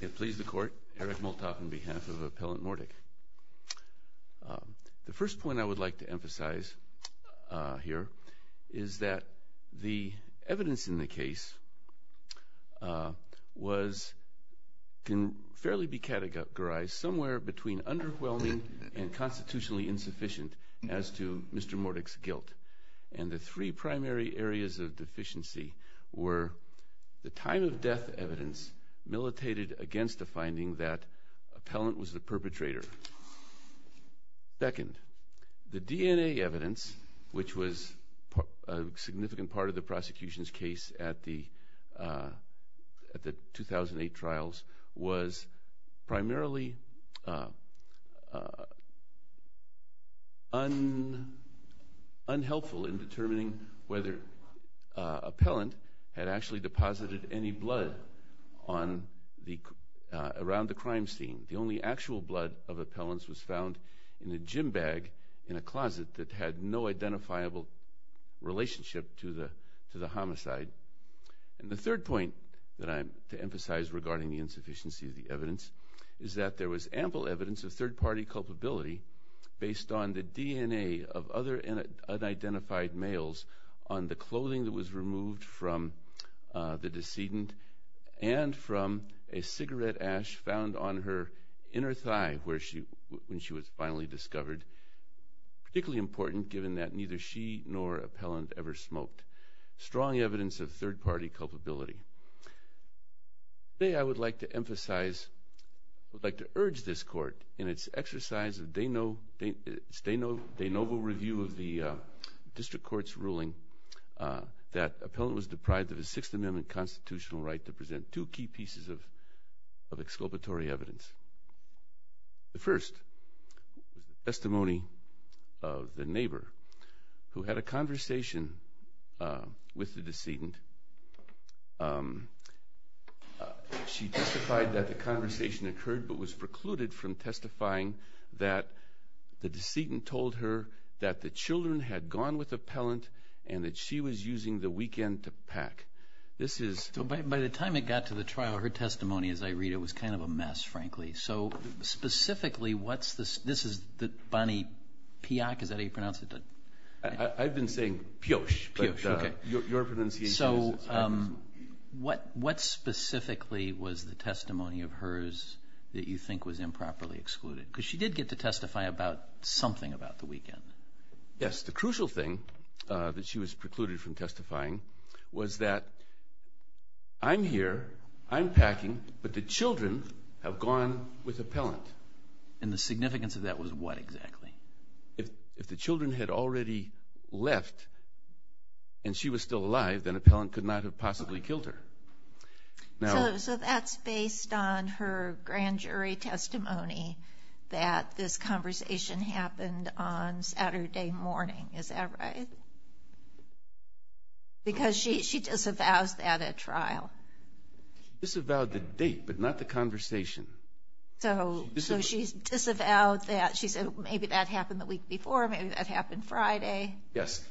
It please the court, Eric Moltoff on behalf of Appellant Mordick. The first point I would like to emphasize here is that the evidence in the case can fairly be categorized somewhere between underwhelming and constitutionally insufficient as to Mr. Mordick's guilt. And the three primary areas of deficiency were the time of death evidence militated against the finding that Appellant was the perpetrator. Second, the DNA evidence, which was a significant part of the prosecution's case at the 2008 trials, was primarily unhelpful in determining whether Appellant had actually deposited any blood around the crime scene. The only actual blood of Appellant's was found in a gym bag in a closet that had no identifiable relationship to the homicide. And the third point that I want to emphasize regarding the insufficiency of the evidence is that there was ample evidence of third-party culpability based on the DNA of other unidentified males on the clothing that was removed from the decedent and from a cigarette ash found on her inner thigh when she was finally discovered, particularly important given that neither she nor Appellant ever smoked. Strong evidence of third-party culpability. Today I would like to urge this Court in its exercise of de novo review of the District Court's ruling that Appellant was deprived of his Sixth Amendment constitutional right to present two key pieces of testimony of the neighbor who had a conversation with the decedent. She testified that the conversation occurred but was precluded from testifying that the decedent told her that the children had gone with Appellant and that she was using the weekend to pack. So by the time it got to the trial, her testimony, as I read it, was kind of a mess, frankly. So specifically, what's this, this is the Bonnie Piak, is that how you pronounce it? I've been saying Pioche. So what specifically was the testimony of hers that you think was improperly excluded? Because she did get to testify about something about the weekend. Yes, the crucial thing that she was precluded from testifying was that I'm here, I'm packing, but the children have gone with Appellant. And the significance of that was what exactly? If the children had already left and she was still alive, then Appellant could not have possibly killed her. So that's based on her grand jury testimony that this conversation happened on Saturday morning, is that right? Because she disavows that at trial. She disavowed the date, but not the conversation. So she disavowed that, she said maybe that happened the week before, maybe that happened Friday. Yes,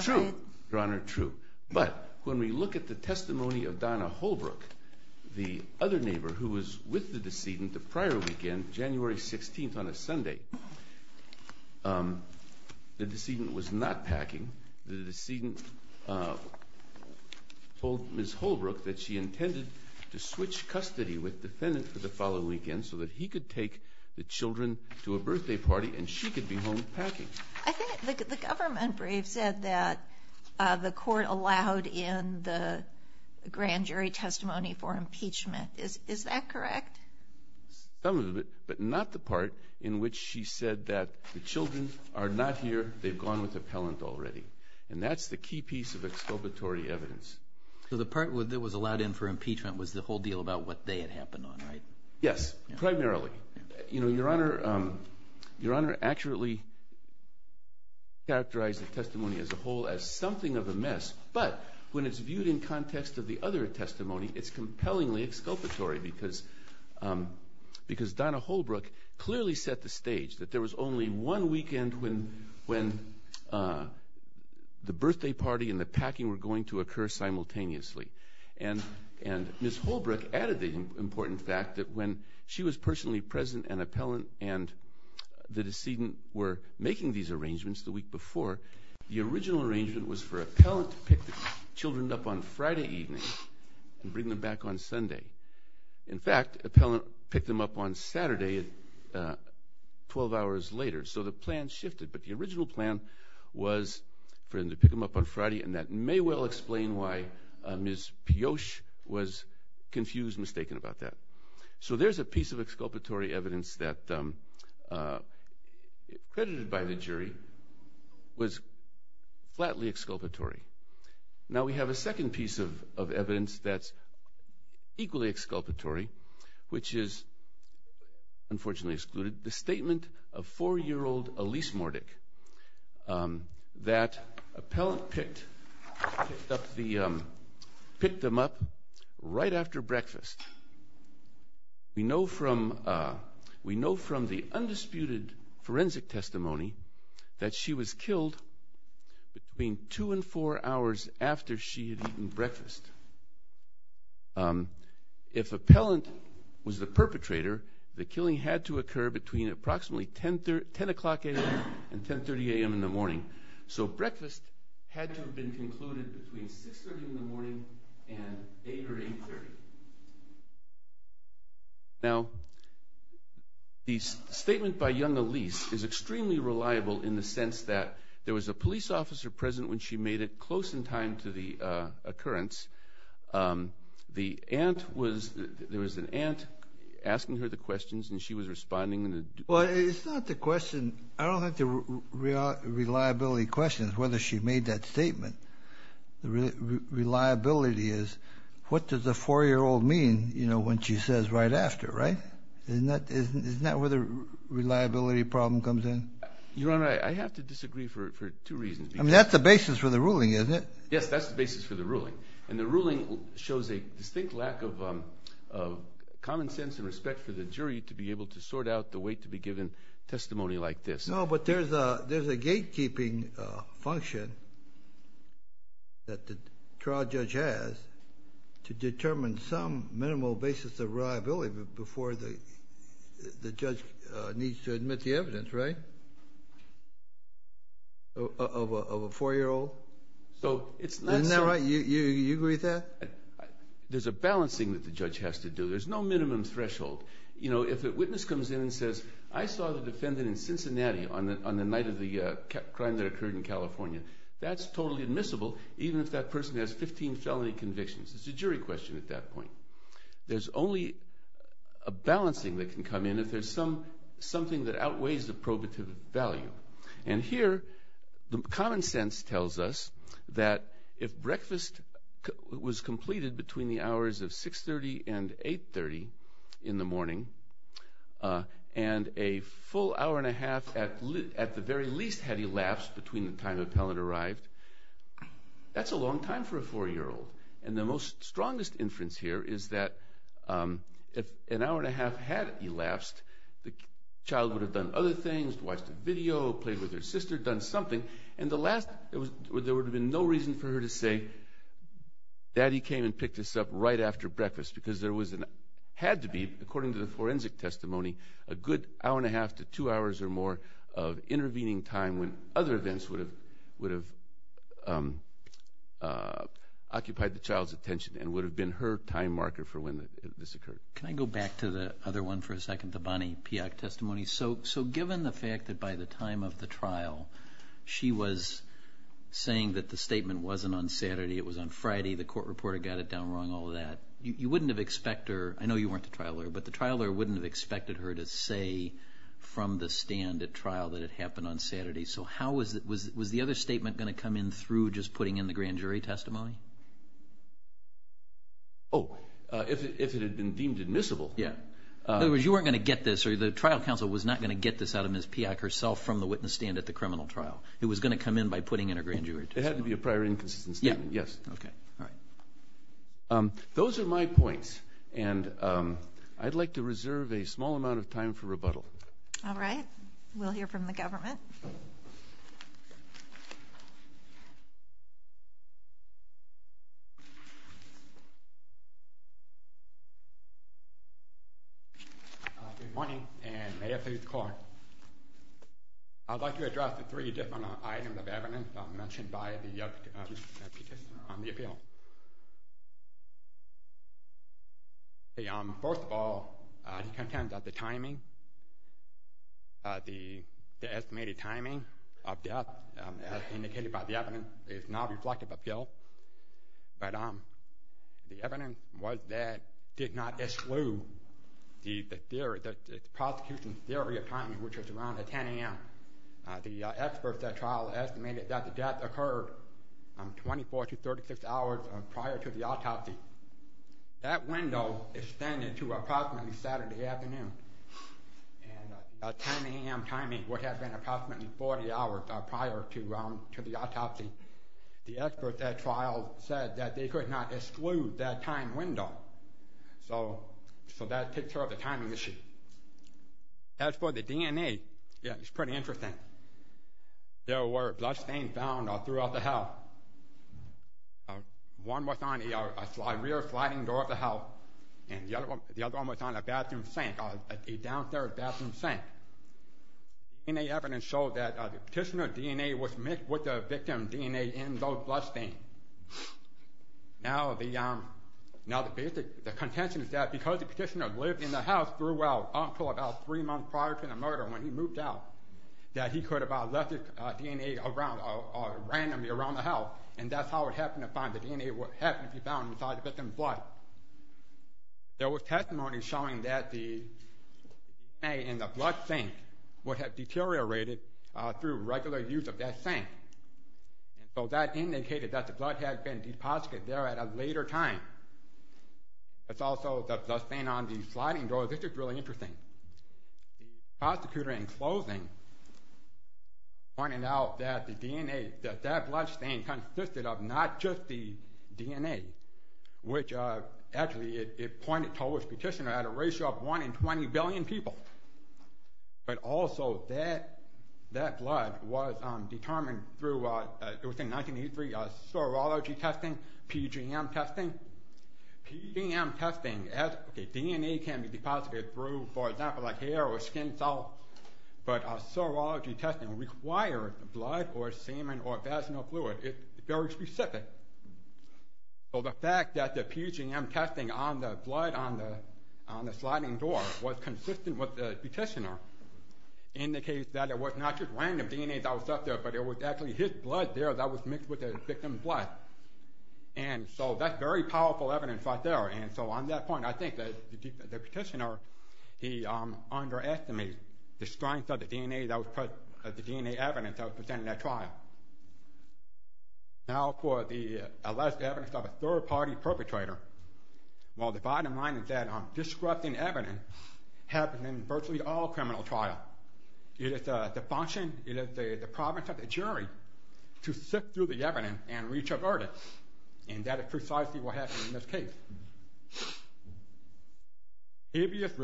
true, Your Honor, true. But when we look at the testimony of Donna Holbrook, the other neighbor who was with the decedent the prior weekend, January 16th on a Sunday, the decedent was not packing. The decedent told Ms. Holbrook that she intended to switch custody with the defendant for the following weekend so that he could take the children to a birthday party and she could be home packing. I think the government brief said that the court allowed in the grand jury testimony for impeachment. Is that correct? Some of it, but not the part in which she said that the children are not here, they've gone with Appellant already. And that's the key piece of exculpatory evidence. So the part that was allowed in for impeachment was the whole deal about what they had happened on, right? Yes, primarily. Your Honor accurately characterized the testimony as a whole as something of a mess, but when it's viewed in context of the other testimony, it's compellingly exculpatory because Donna Holbrook clearly set the stage that there was only one weekend when the birthday party and the packing were going to occur simultaneously. And Ms. Holbrook added the important fact that when she was personally present and Appellant and the decedent were making these arrangements the week before, the original arrangement was for Appellant to pick the children up on Friday evening and bring them back on Sunday. In fact, Appellant picked them up on Saturday 12 hours later, so the plan shifted. But the original plan was for him to pick them up on Friday, and that may well explain why Ms. Piotr was confused, mistaken about that. So there's a piece of exculpatory evidence that, credited by the jury, was flatly exculpatory. Now we have a second piece of evidence that's equally exculpatory, which is unfortunately excluded, the statement of four-year-old Elise Mordek that Appellant picked them up right after breakfast. We know from the undisputed forensic testimony that she was killed between two and four hours after she had eaten breakfast. If Appellant was the perpetrator, the killing had to occur between approximately 10 o'clock a.m. and 10.30 a.m. in the morning. So breakfast had to have been concluded between 6.30 in the morning and 8 or 8.30. Now the statement by young Elise is extremely reliable in the sense that there was a police officer present when she made it close in time to the occurrence. There was an aunt asking her the questions, and she was responding in a... Well, it's not the question. I don't think the reliability question is whether she made that statement. Reliability is what does a four-year-old mean when she says right after, right? Isn't that where the basis for the ruling is? Yes, that's the basis for the ruling. And the ruling shows a distinct lack of common sense and respect for the jury to be able to sort out the weight to be given testimony like this. No, but there's a gatekeeping function that the trial judge has to determine some minimal basis of reliability before the judge needs to admit the evidence, right? Of a four-year-old? Isn't that right? You agree with that? There's a balancing that the judge has to do. There's no minimum threshold. If a witness comes in and says, I saw the defendant in Cincinnati on the night of the crime that occurred in California, that's totally admissible even if that person has 15 felony convictions. It's a jury question at that point. There's only a balancing that can come in if there's something that outweighs the probative value. And here the common sense tells us that if breakfast was completed between the hours of 6.30 and 8.30 in the morning and a full hour and a half at the very least had elapsed between the time the child would have done other things, watched a video, played with her sister, done something, and the last, there would have been no reason for her to say, Daddy came and picked us up right after breakfast because there had to be, according to the forensic testimony, a good hour and a half to two hours or more of intervening time when other events would have occupied the time marker for when this occurred. So given the fact that by the time of the trial she was saying that the statement wasn't on Saturday, it was on Friday, the court reporter got it down wrong, all of that, you wouldn't have expect her, I know you weren't the trial lawyer, but the trial lawyer wouldn't have expected her to say from the stand at trial that it happened on Saturday. So how was the other statement going to come in through just putting in the grand jury testimony? Oh, if it had been deemed admissible. In other words, you weren't going to get this or the trial counsel was not going to get this out of Ms. Piak herself from the witness stand at the criminal trial. It was going to come in by putting in a grand jury testimony. It had to be a prior inconsistent statement, yes. Okay. Those are my points and I'd like to reserve a small amount of time for rebuttal. All right. We'll hear from the government. Good morning and may it please the court. I'd like to address the three different items of evidence mentioned by the participant on the appeal. First of all, he contends that the timing, the estimated timing of death as indicated by the evidence is not reflective of guilt, but the evidence was that did not exclude the theory, the prosecution's theory of timing, which was around 10 a.m. The experts at trial estimated that the death occurred 24 to 36 hours prior to the autopsy. That window extended to approximately Saturday afternoon and a 10 a.m. timing would have been approximately 40 hours prior to the autopsy. The experts at trial said that they could not exclude that time window. So that takes care of the timing issue. As for the DNA, it's pretty interesting. There were bloodstains found throughout the house. One was on a rear sliding door of the house and the other one was on a bathroom sink, a downstairs bathroom sink. DNA evidence showed that the petitioner's DNA was mixed with the victim's DNA in those bloodstains. Now the contention is that because the petitioner lived in the house until about three months prior to the murder when he moved out, that he could have left his DNA randomly around the house and that's how it happened to be found inside the victim's blood. There was testimony showing that the DNA in the blood sink would have deteriorated through regular use of that sink. So that indicated that the bloodstain on the sliding door, this is really interesting, the prosecutor in closing pointed out that that bloodstain consisted of not just the DNA, which actually it pointed to which petitioner had a ratio of one in 20 billion people, but also that blood was determined through, it was in 1983, serology testing, PGM testing. PGM testing, DNA can be deposited through, for example, hair or skin cells, but serology testing requires blood or semen or vaginal fluid. It's very specific. So the fact that the PGM testing on the blood on the sliding door was consistent with the petitioner indicates that it was not just random DNA that was left there, but it was actually his blood there that was mixed with the victim's blood. And so that's very powerful evidence right there and so on that point I think that the petitioner he underestimated the strength of the DNA evidence that was presented in that trial. Now for the alleged evidence of a third party perpetrator. Well the bottom line is that disrupting evidence happens in virtually all criminal trials. It is the function, it is the province of the jury to sift through the evidence and reach a verdict. And that is precisely what happened in this case. Habeas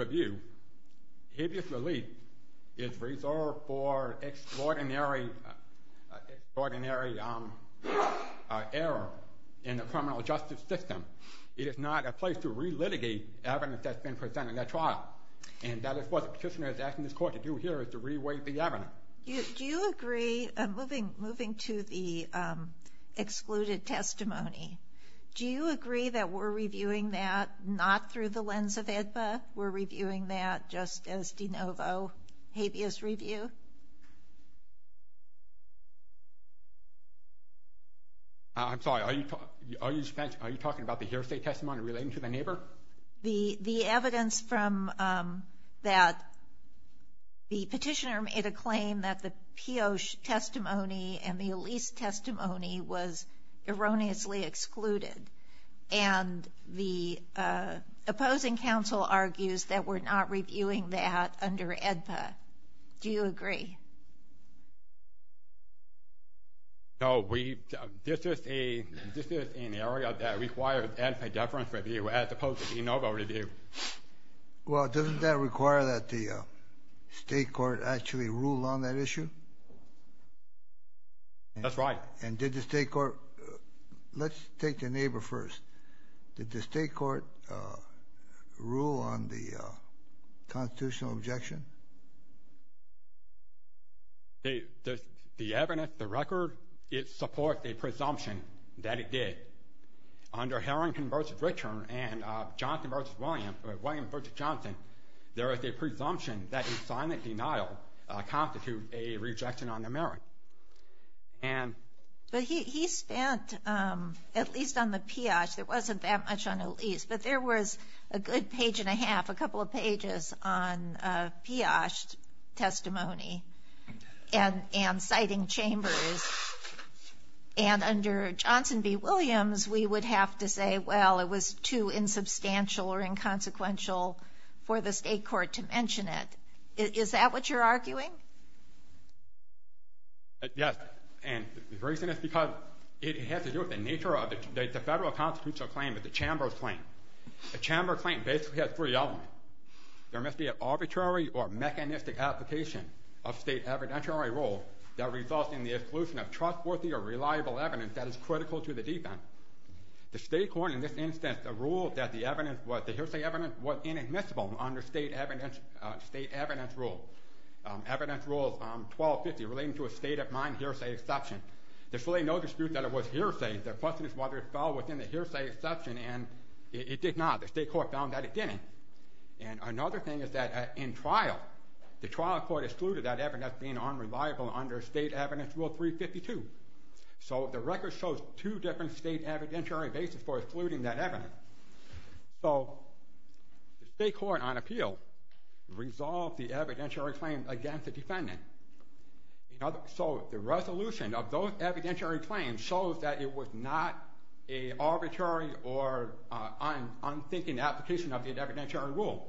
relief is reserved for extraordinary error in the criminal justice system. It is not a place to re-litigate evidence that's been presented in that trial. And that is what the petitioner is asking this court to do here is to re-weight the evidence. Do you agree, moving to the excluded testimony, do you agree that we're reviewing that not through the lens of AEDPA, we're reviewing that just as de novo habeas review? I'm sorry, are you talking about the hearsay testimony relating to the neighbor? The evidence from that, the petitioner made a claim that the Pioche testimony and the Elise testimony was erroneously excluded. And the opposing counsel argues that we're not reviewing that under AEDPA. Do you agree? No. This is an area that requires AEDPA deference review as opposed to de novo review. Well, doesn't that require that the state court actually rule on that issue? That's right. And did the state court, let's take the neighbor first. Did the state court rule on the constitutional objection? The evidence, the record, it supports a presumption that it did. Under Harrington v. Richard and Johnson v. William, or William v. Johnson, there is a presumption that silent denial constitute a rejection on the merit. But he spent, at least on the Pioche, there wasn't that much on Elise, but there was a good page and a half, a couple of pages on Pioche testimony and citing chambers. And under Johnson v. Williams, we would have to say, well, it was too late. Is that what you're arguing? Yes. And the reason is because it has to do with the nature of it. The federal constitutional claim is the chamber's claim. The chamber claim basically has three elements. There must be an arbitrary or mechanistic application of state evidentiary rules that result in the exclusion of trustworthy or reliable evidence that is critical to the defense. The state court, in this instance, found that the rule that the hearsay evidence was inadmissible under state evidence rules, evidence rules 1250 relating to a state of mind hearsay exception. There's really no dispute that it was hearsay. The question is whether it fell within the hearsay exception and it did not. The state court found that it didn't. And another thing is that in trial, the trial court excluded that evidence being unreliable under state evidence rule 352. So the record shows two different state evidentiary basis for excluding that evidence. So the state court on appeal resolved the evidentiary claim against the defendant. So the resolution of those evidentiary claims shows that it was not an arbitrary or unthinking application of the evidentiary rule.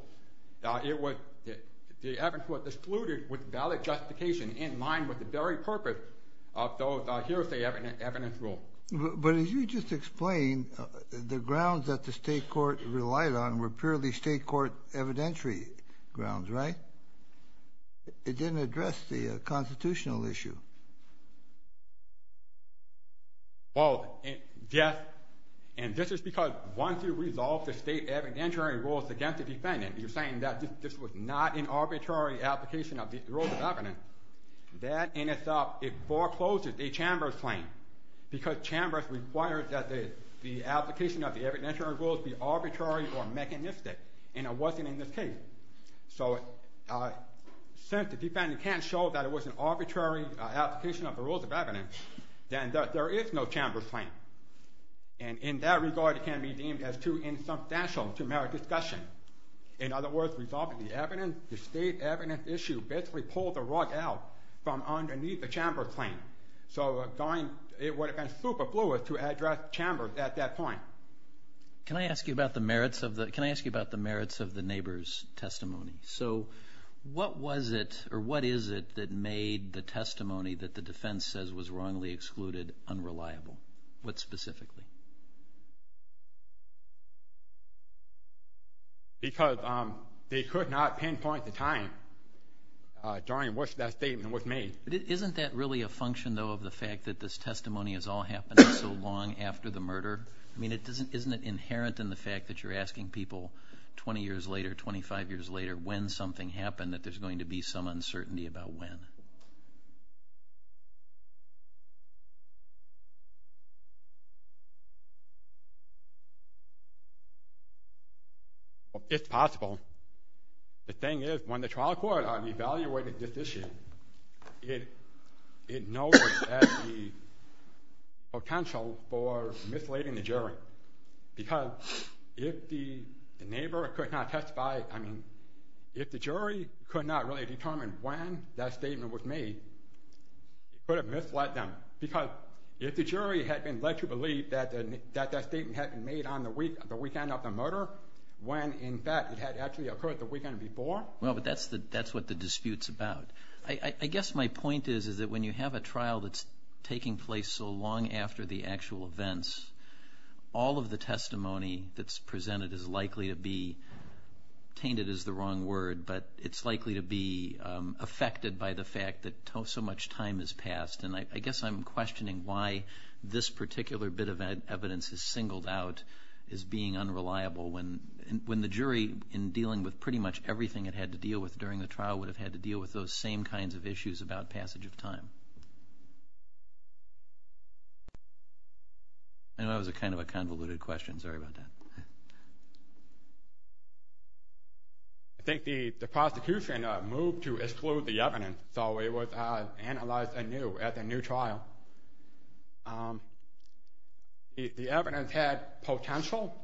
The evidence was valid justification in line with the very purpose of those hearsay evidence rules. But as you just explained, the grounds that the state court relied on were purely state court evidentiary grounds, right? It didn't address the constitutional issue. Well, yes. And this is because once you resolve the state evidentiary rules against the defendant, you're saying that this was not an arbitrary application of the rules of evidence, that in itself forecloses a chambers claim because chambers require that the application of the evidentiary rules be arbitrary or mechanistic. And it wasn't in this case. So since the defendant can't show that it was an arbitrary application of the rules of evidence, then there is no chambers claim. And in that regard, it can be deemed as too insubstantial to merit discussion. In other words, resolving the evidence, the state evidence issue basically pulled the rug out from underneath the chambers claim. So it would have been superfluous to address chambers at that point. Can I ask you about the merits of the neighbor's testimony? So what was it or what is it that made the testimony that the defense says was wrongly excluded unreliable? What specifically? Because they could not pinpoint the time during which that statement was made. Isn't that really a function, though, of the fact that this testimony has all happened so long after the murder? I mean, isn't it inherent in the fact that you're asking people 20 years later, 25 years later, when something happened, that there's going to be some uncertainty about when? It's possible. The thing is, when the trial court evaluated this issue, it noted that the potential for misleading the jury. Because if the neighbor could not testify, I mean, if the jury could not really determine when that statement was made, it could have misled them. Because if the jury had been led to believe that that statement had been made on the weekend of the murder, when in fact it had actually occurred the weekend before. Well, but that's what the dispute's about. I guess my point is that when you have a trial that's taking place so long after the actual events, all of the testimony that's presented is likely to be, tainted is the wrong word, but it's likely to be affected by the fact that so much time has passed. And I guess I'm questioning why this particular bit of evidence is singled out as being unreliable when the jury, in dealing with pretty much everything it had to deal with during the trial, would have had to deal with those same kinds of issues about passage of time. I know that was kind of a convoluted question. Sorry about that. I think the prosecution moved to exclude the evidence, so it was analyzed anew at the new trial. The evidence had potential.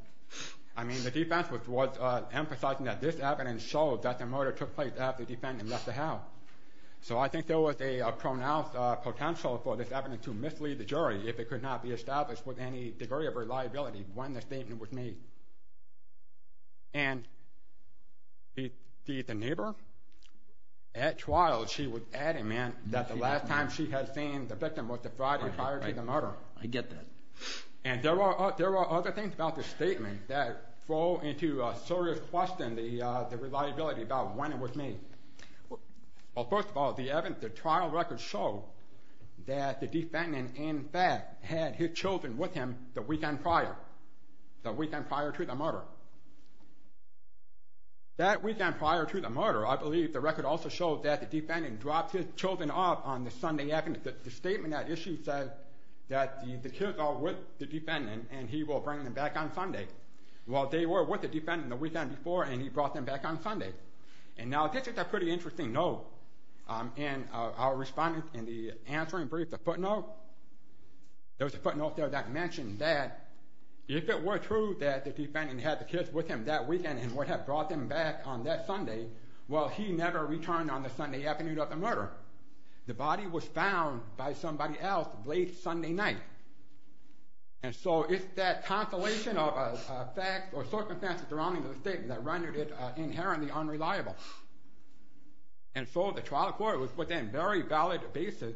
The defense was emphasizing that this evidence showed that the murder took place after the defendant left the house. So I think there was a pronounced potential for this evidence to mislead the jury if it could not be established with any degree of reliability when the statement was made. And the neighbor at trial, she was adding that the last time she had seen the victim was the Friday prior to the murder. I get that. And there are other things about this statement that throw into a serious question the reliability about when it was made. Well, first of all, the trial records show that the defendant in fact had his children with him the weekend prior to the murder. That weekend prior to the murder, I believe the record also shows that the defendant dropped his children off on the Sunday afternoon. The statement at issue says that the kids are with the defendant and he will bring them back on Sunday. Well, they were with the defendant the weekend before and he brought them back on Sunday. And now this is a pretty interesting note. And our respondents in the answering brief, the footnote, there was a footnote out there that mentioned that if it were true that the defendant had the kids with him that weekend and would have brought them back on that Sunday, well, he never returned on the Sunday afternoon of the murder. The body was found by somebody else late Sunday night. And so it's that constellation of facts or circumstances around the statement that rendered it inherently unreliable. And so the trial court was within very valid basis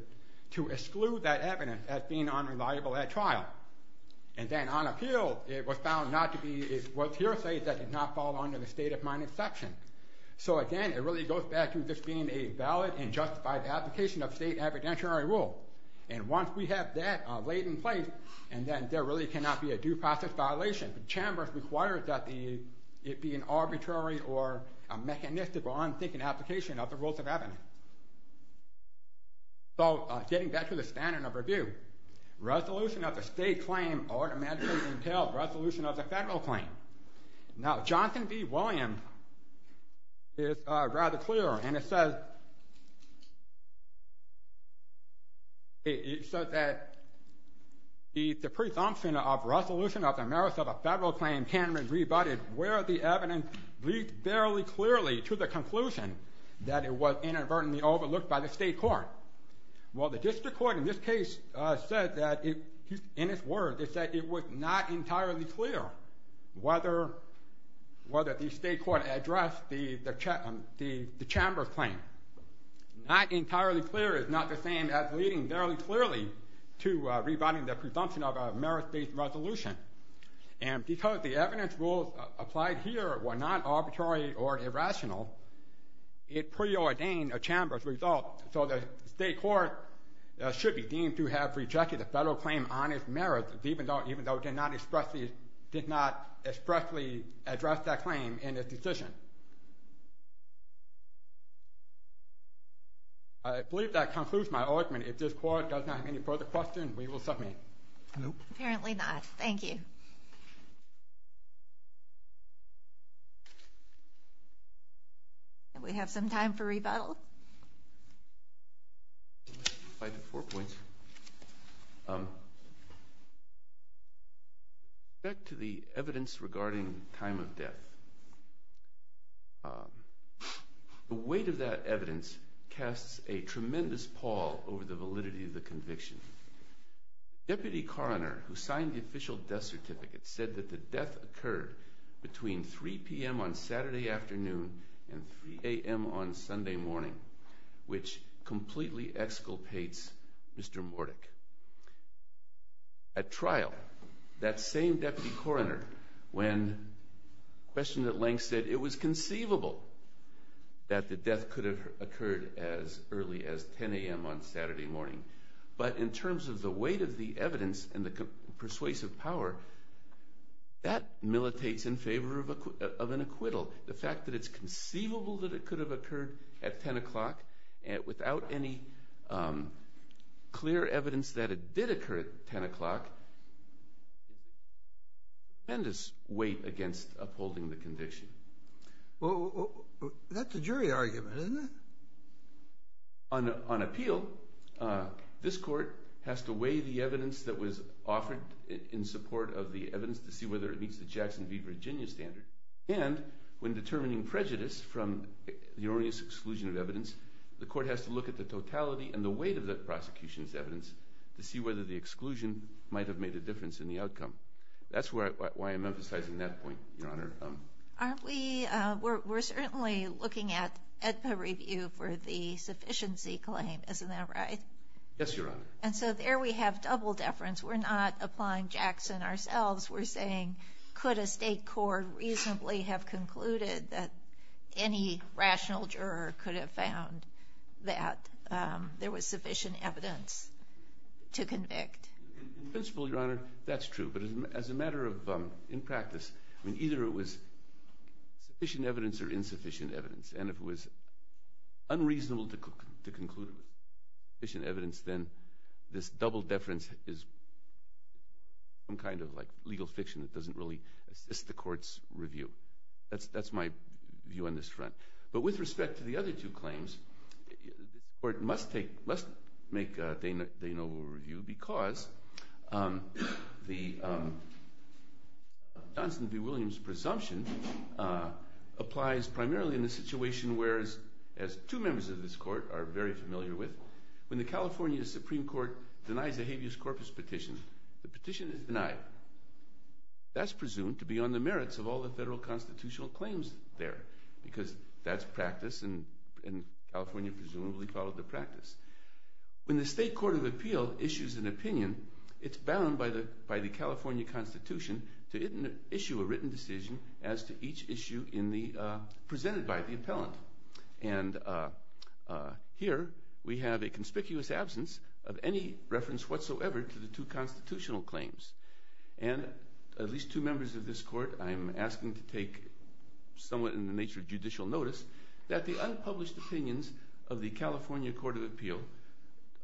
to exclude that evidence as being unreliable at trial. And then on appeal, it was found not to be, it was hearsay that did not fall under the state of minus section. So again, it really goes back to this being a valid and justified application of state evidentiary rule. And once we have that laid in place, and then there really cannot be a due process violation. Chambers requires that it be an So getting back to the standard of review, resolution of the state claim automatically entails resolution of the federal claim. Now Johnson v. Williams is rather clear, and it says it says that the presumption of resolution of the merits of a federal claim can be rebutted where the evidence leads barely clearly to the conclusion that it was inadvertently overlooked by the state court. Well, the district court in this case said that, in its words, it said it was not entirely clear whether the state court addressed the Chambers claim. Not entirely clear is not the same as leading barely clearly to rebutting the presumption of a merits-based resolution. And because the evidence rules applied here were not arbitrary or irrational, it preordained a Chambers result. So the state court should be deemed to have rejected a federal claim on its merits, even though it did not expressly address that claim in its decision. I believe that concludes my argument. If this court does not have any further questions, we will submit. No. Apparently not. Thank you. We have some time for rebuttal. Five to four points. Back to the evidence regarding time of death. The weight of that evidence casts a tremendous pall over the validity of the evidence. Deputy Coroner, who signed the official death certificate, said that the death occurred between 3 p.m. on Saturday afternoon and 3 a.m. on Sunday morning, which completely exculpates Mr. Morduch. At trial, that same deputy coroner, when questioned at length, said it was conceivable that the death could have occurred as early as 10 a.m. on Saturday morning. But in terms of the weight of the evidence and the persuasive power, that militates in favor of an acquittal. The fact that it's conceivable that it could have occurred at 10 o'clock without any clear evidence that it did occur at 10 o'clock is a tremendous weight against upholding the evidence. On appeal, this court has to weigh the evidence that was offered in support of the evidence to see whether it meets the Jackson v. Virginia standard. And when determining prejudice from the erroneous exclusion of evidence, the court has to look at the totality and the weight of the prosecution's evidence to see whether the exclusion might have made a difference in the outcome. That's why I'm emphasizing that point, Your Honor. We're certainly looking at AEDPA review for the sufficiency claim, isn't that right? Yes, Your Honor. And so there we have double deference. We're not applying Jackson ourselves. We're saying, could a state court reasonably have concluded that any rational juror could have found that there was sufficient evidence to convict? In principle, Your Honor, that's true. But as a matter of practice, either it was sufficient evidence or insufficient evidence, and it was unreasonable to conclude sufficient evidence, then this double deference is some kind of legal fiction that doesn't really assist the court's review. That's my view on this front. But with respect to the other two claims, the court must make de novo review because the Johnson v. Williams presumption applies primarily in the situation where, as two members of this court are very familiar with, when the California Supreme Court denies the habeas corpus petition, the petition is denied. That's presumed to be on the merits of all the federal constitutional claims there, because that's practice, and California presumably followed the practice. When the state court of appeal issues an opinion, it's bound by the California Constitution to issue a written decision as to each issue presented by the appellant. And here we have a conspicuous absence of any reference whatsoever to the two cases, and it's important to take somewhat in the nature of judicial notice that the unpublished opinions of the California Court of Appeal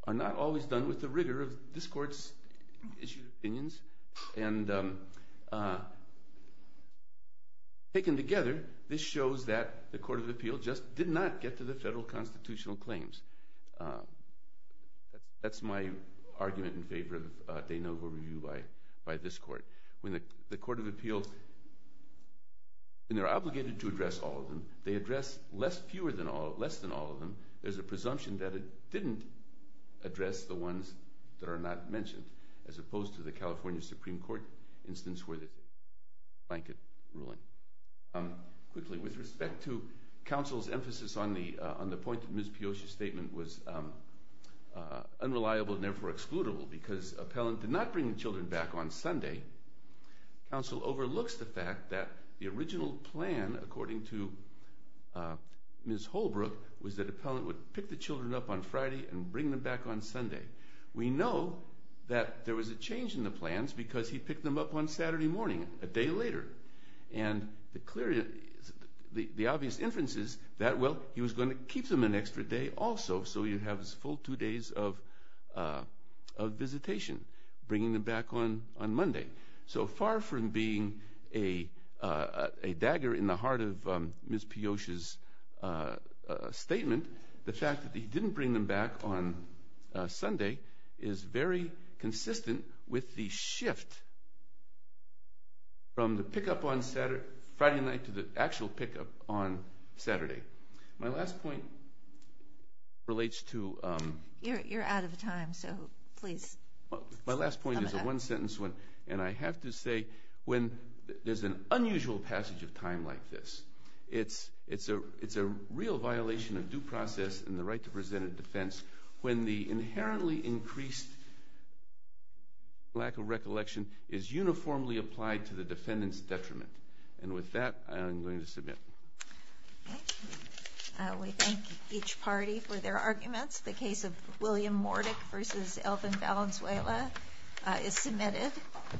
are not always done with the rigor of this court's issued opinions, and taken together, this shows that the court of appeal just did not get to the federal constitutional claims. That's my argument in favor of taking a review by this court. When the court of appeal, and they're obligated to address all of them, they address less than all of them, there's a presumption that it didn't address the ones that are not mentioned, as opposed to the California Supreme Court instance where the blanket ruling. Quickly, with respect to counsel's emphasis on the point of Ms. Piotr's statement was unreliable and therefore excludable, because appellant did not bring the children back on Sunday, counsel overlooks the fact that the original plan according to Ms. Holbrook was that appellant would pick the children up on Friday and bring them back on Sunday. We know that there was a change in the plans because he picked them up on Saturday morning, a day later, and the obvious inference is that, well, he was going to keep them an extra day also so he'd have his full two days of visitation, bringing them back on Monday. So far from being a dagger in the heart of Ms. Piotr's statement, the fact that he didn't bring them back on Sunday is very consistent with the shift from the pickup on Friday night to the actual pickup on Saturday. My last point relates to... You're out of time, so please... My last point is a one sentence one, and I have to say when there's an unusual passage of time like this, it's a real violation of due process and the right to present a defense when the inherently increased lack of recollection is uniformly applied to the defendant's detriment. And with that, I'm going to submit. Thank you. We thank each party for their arguments. The case of William Mordick v. Alvin Valenzuela is submitted.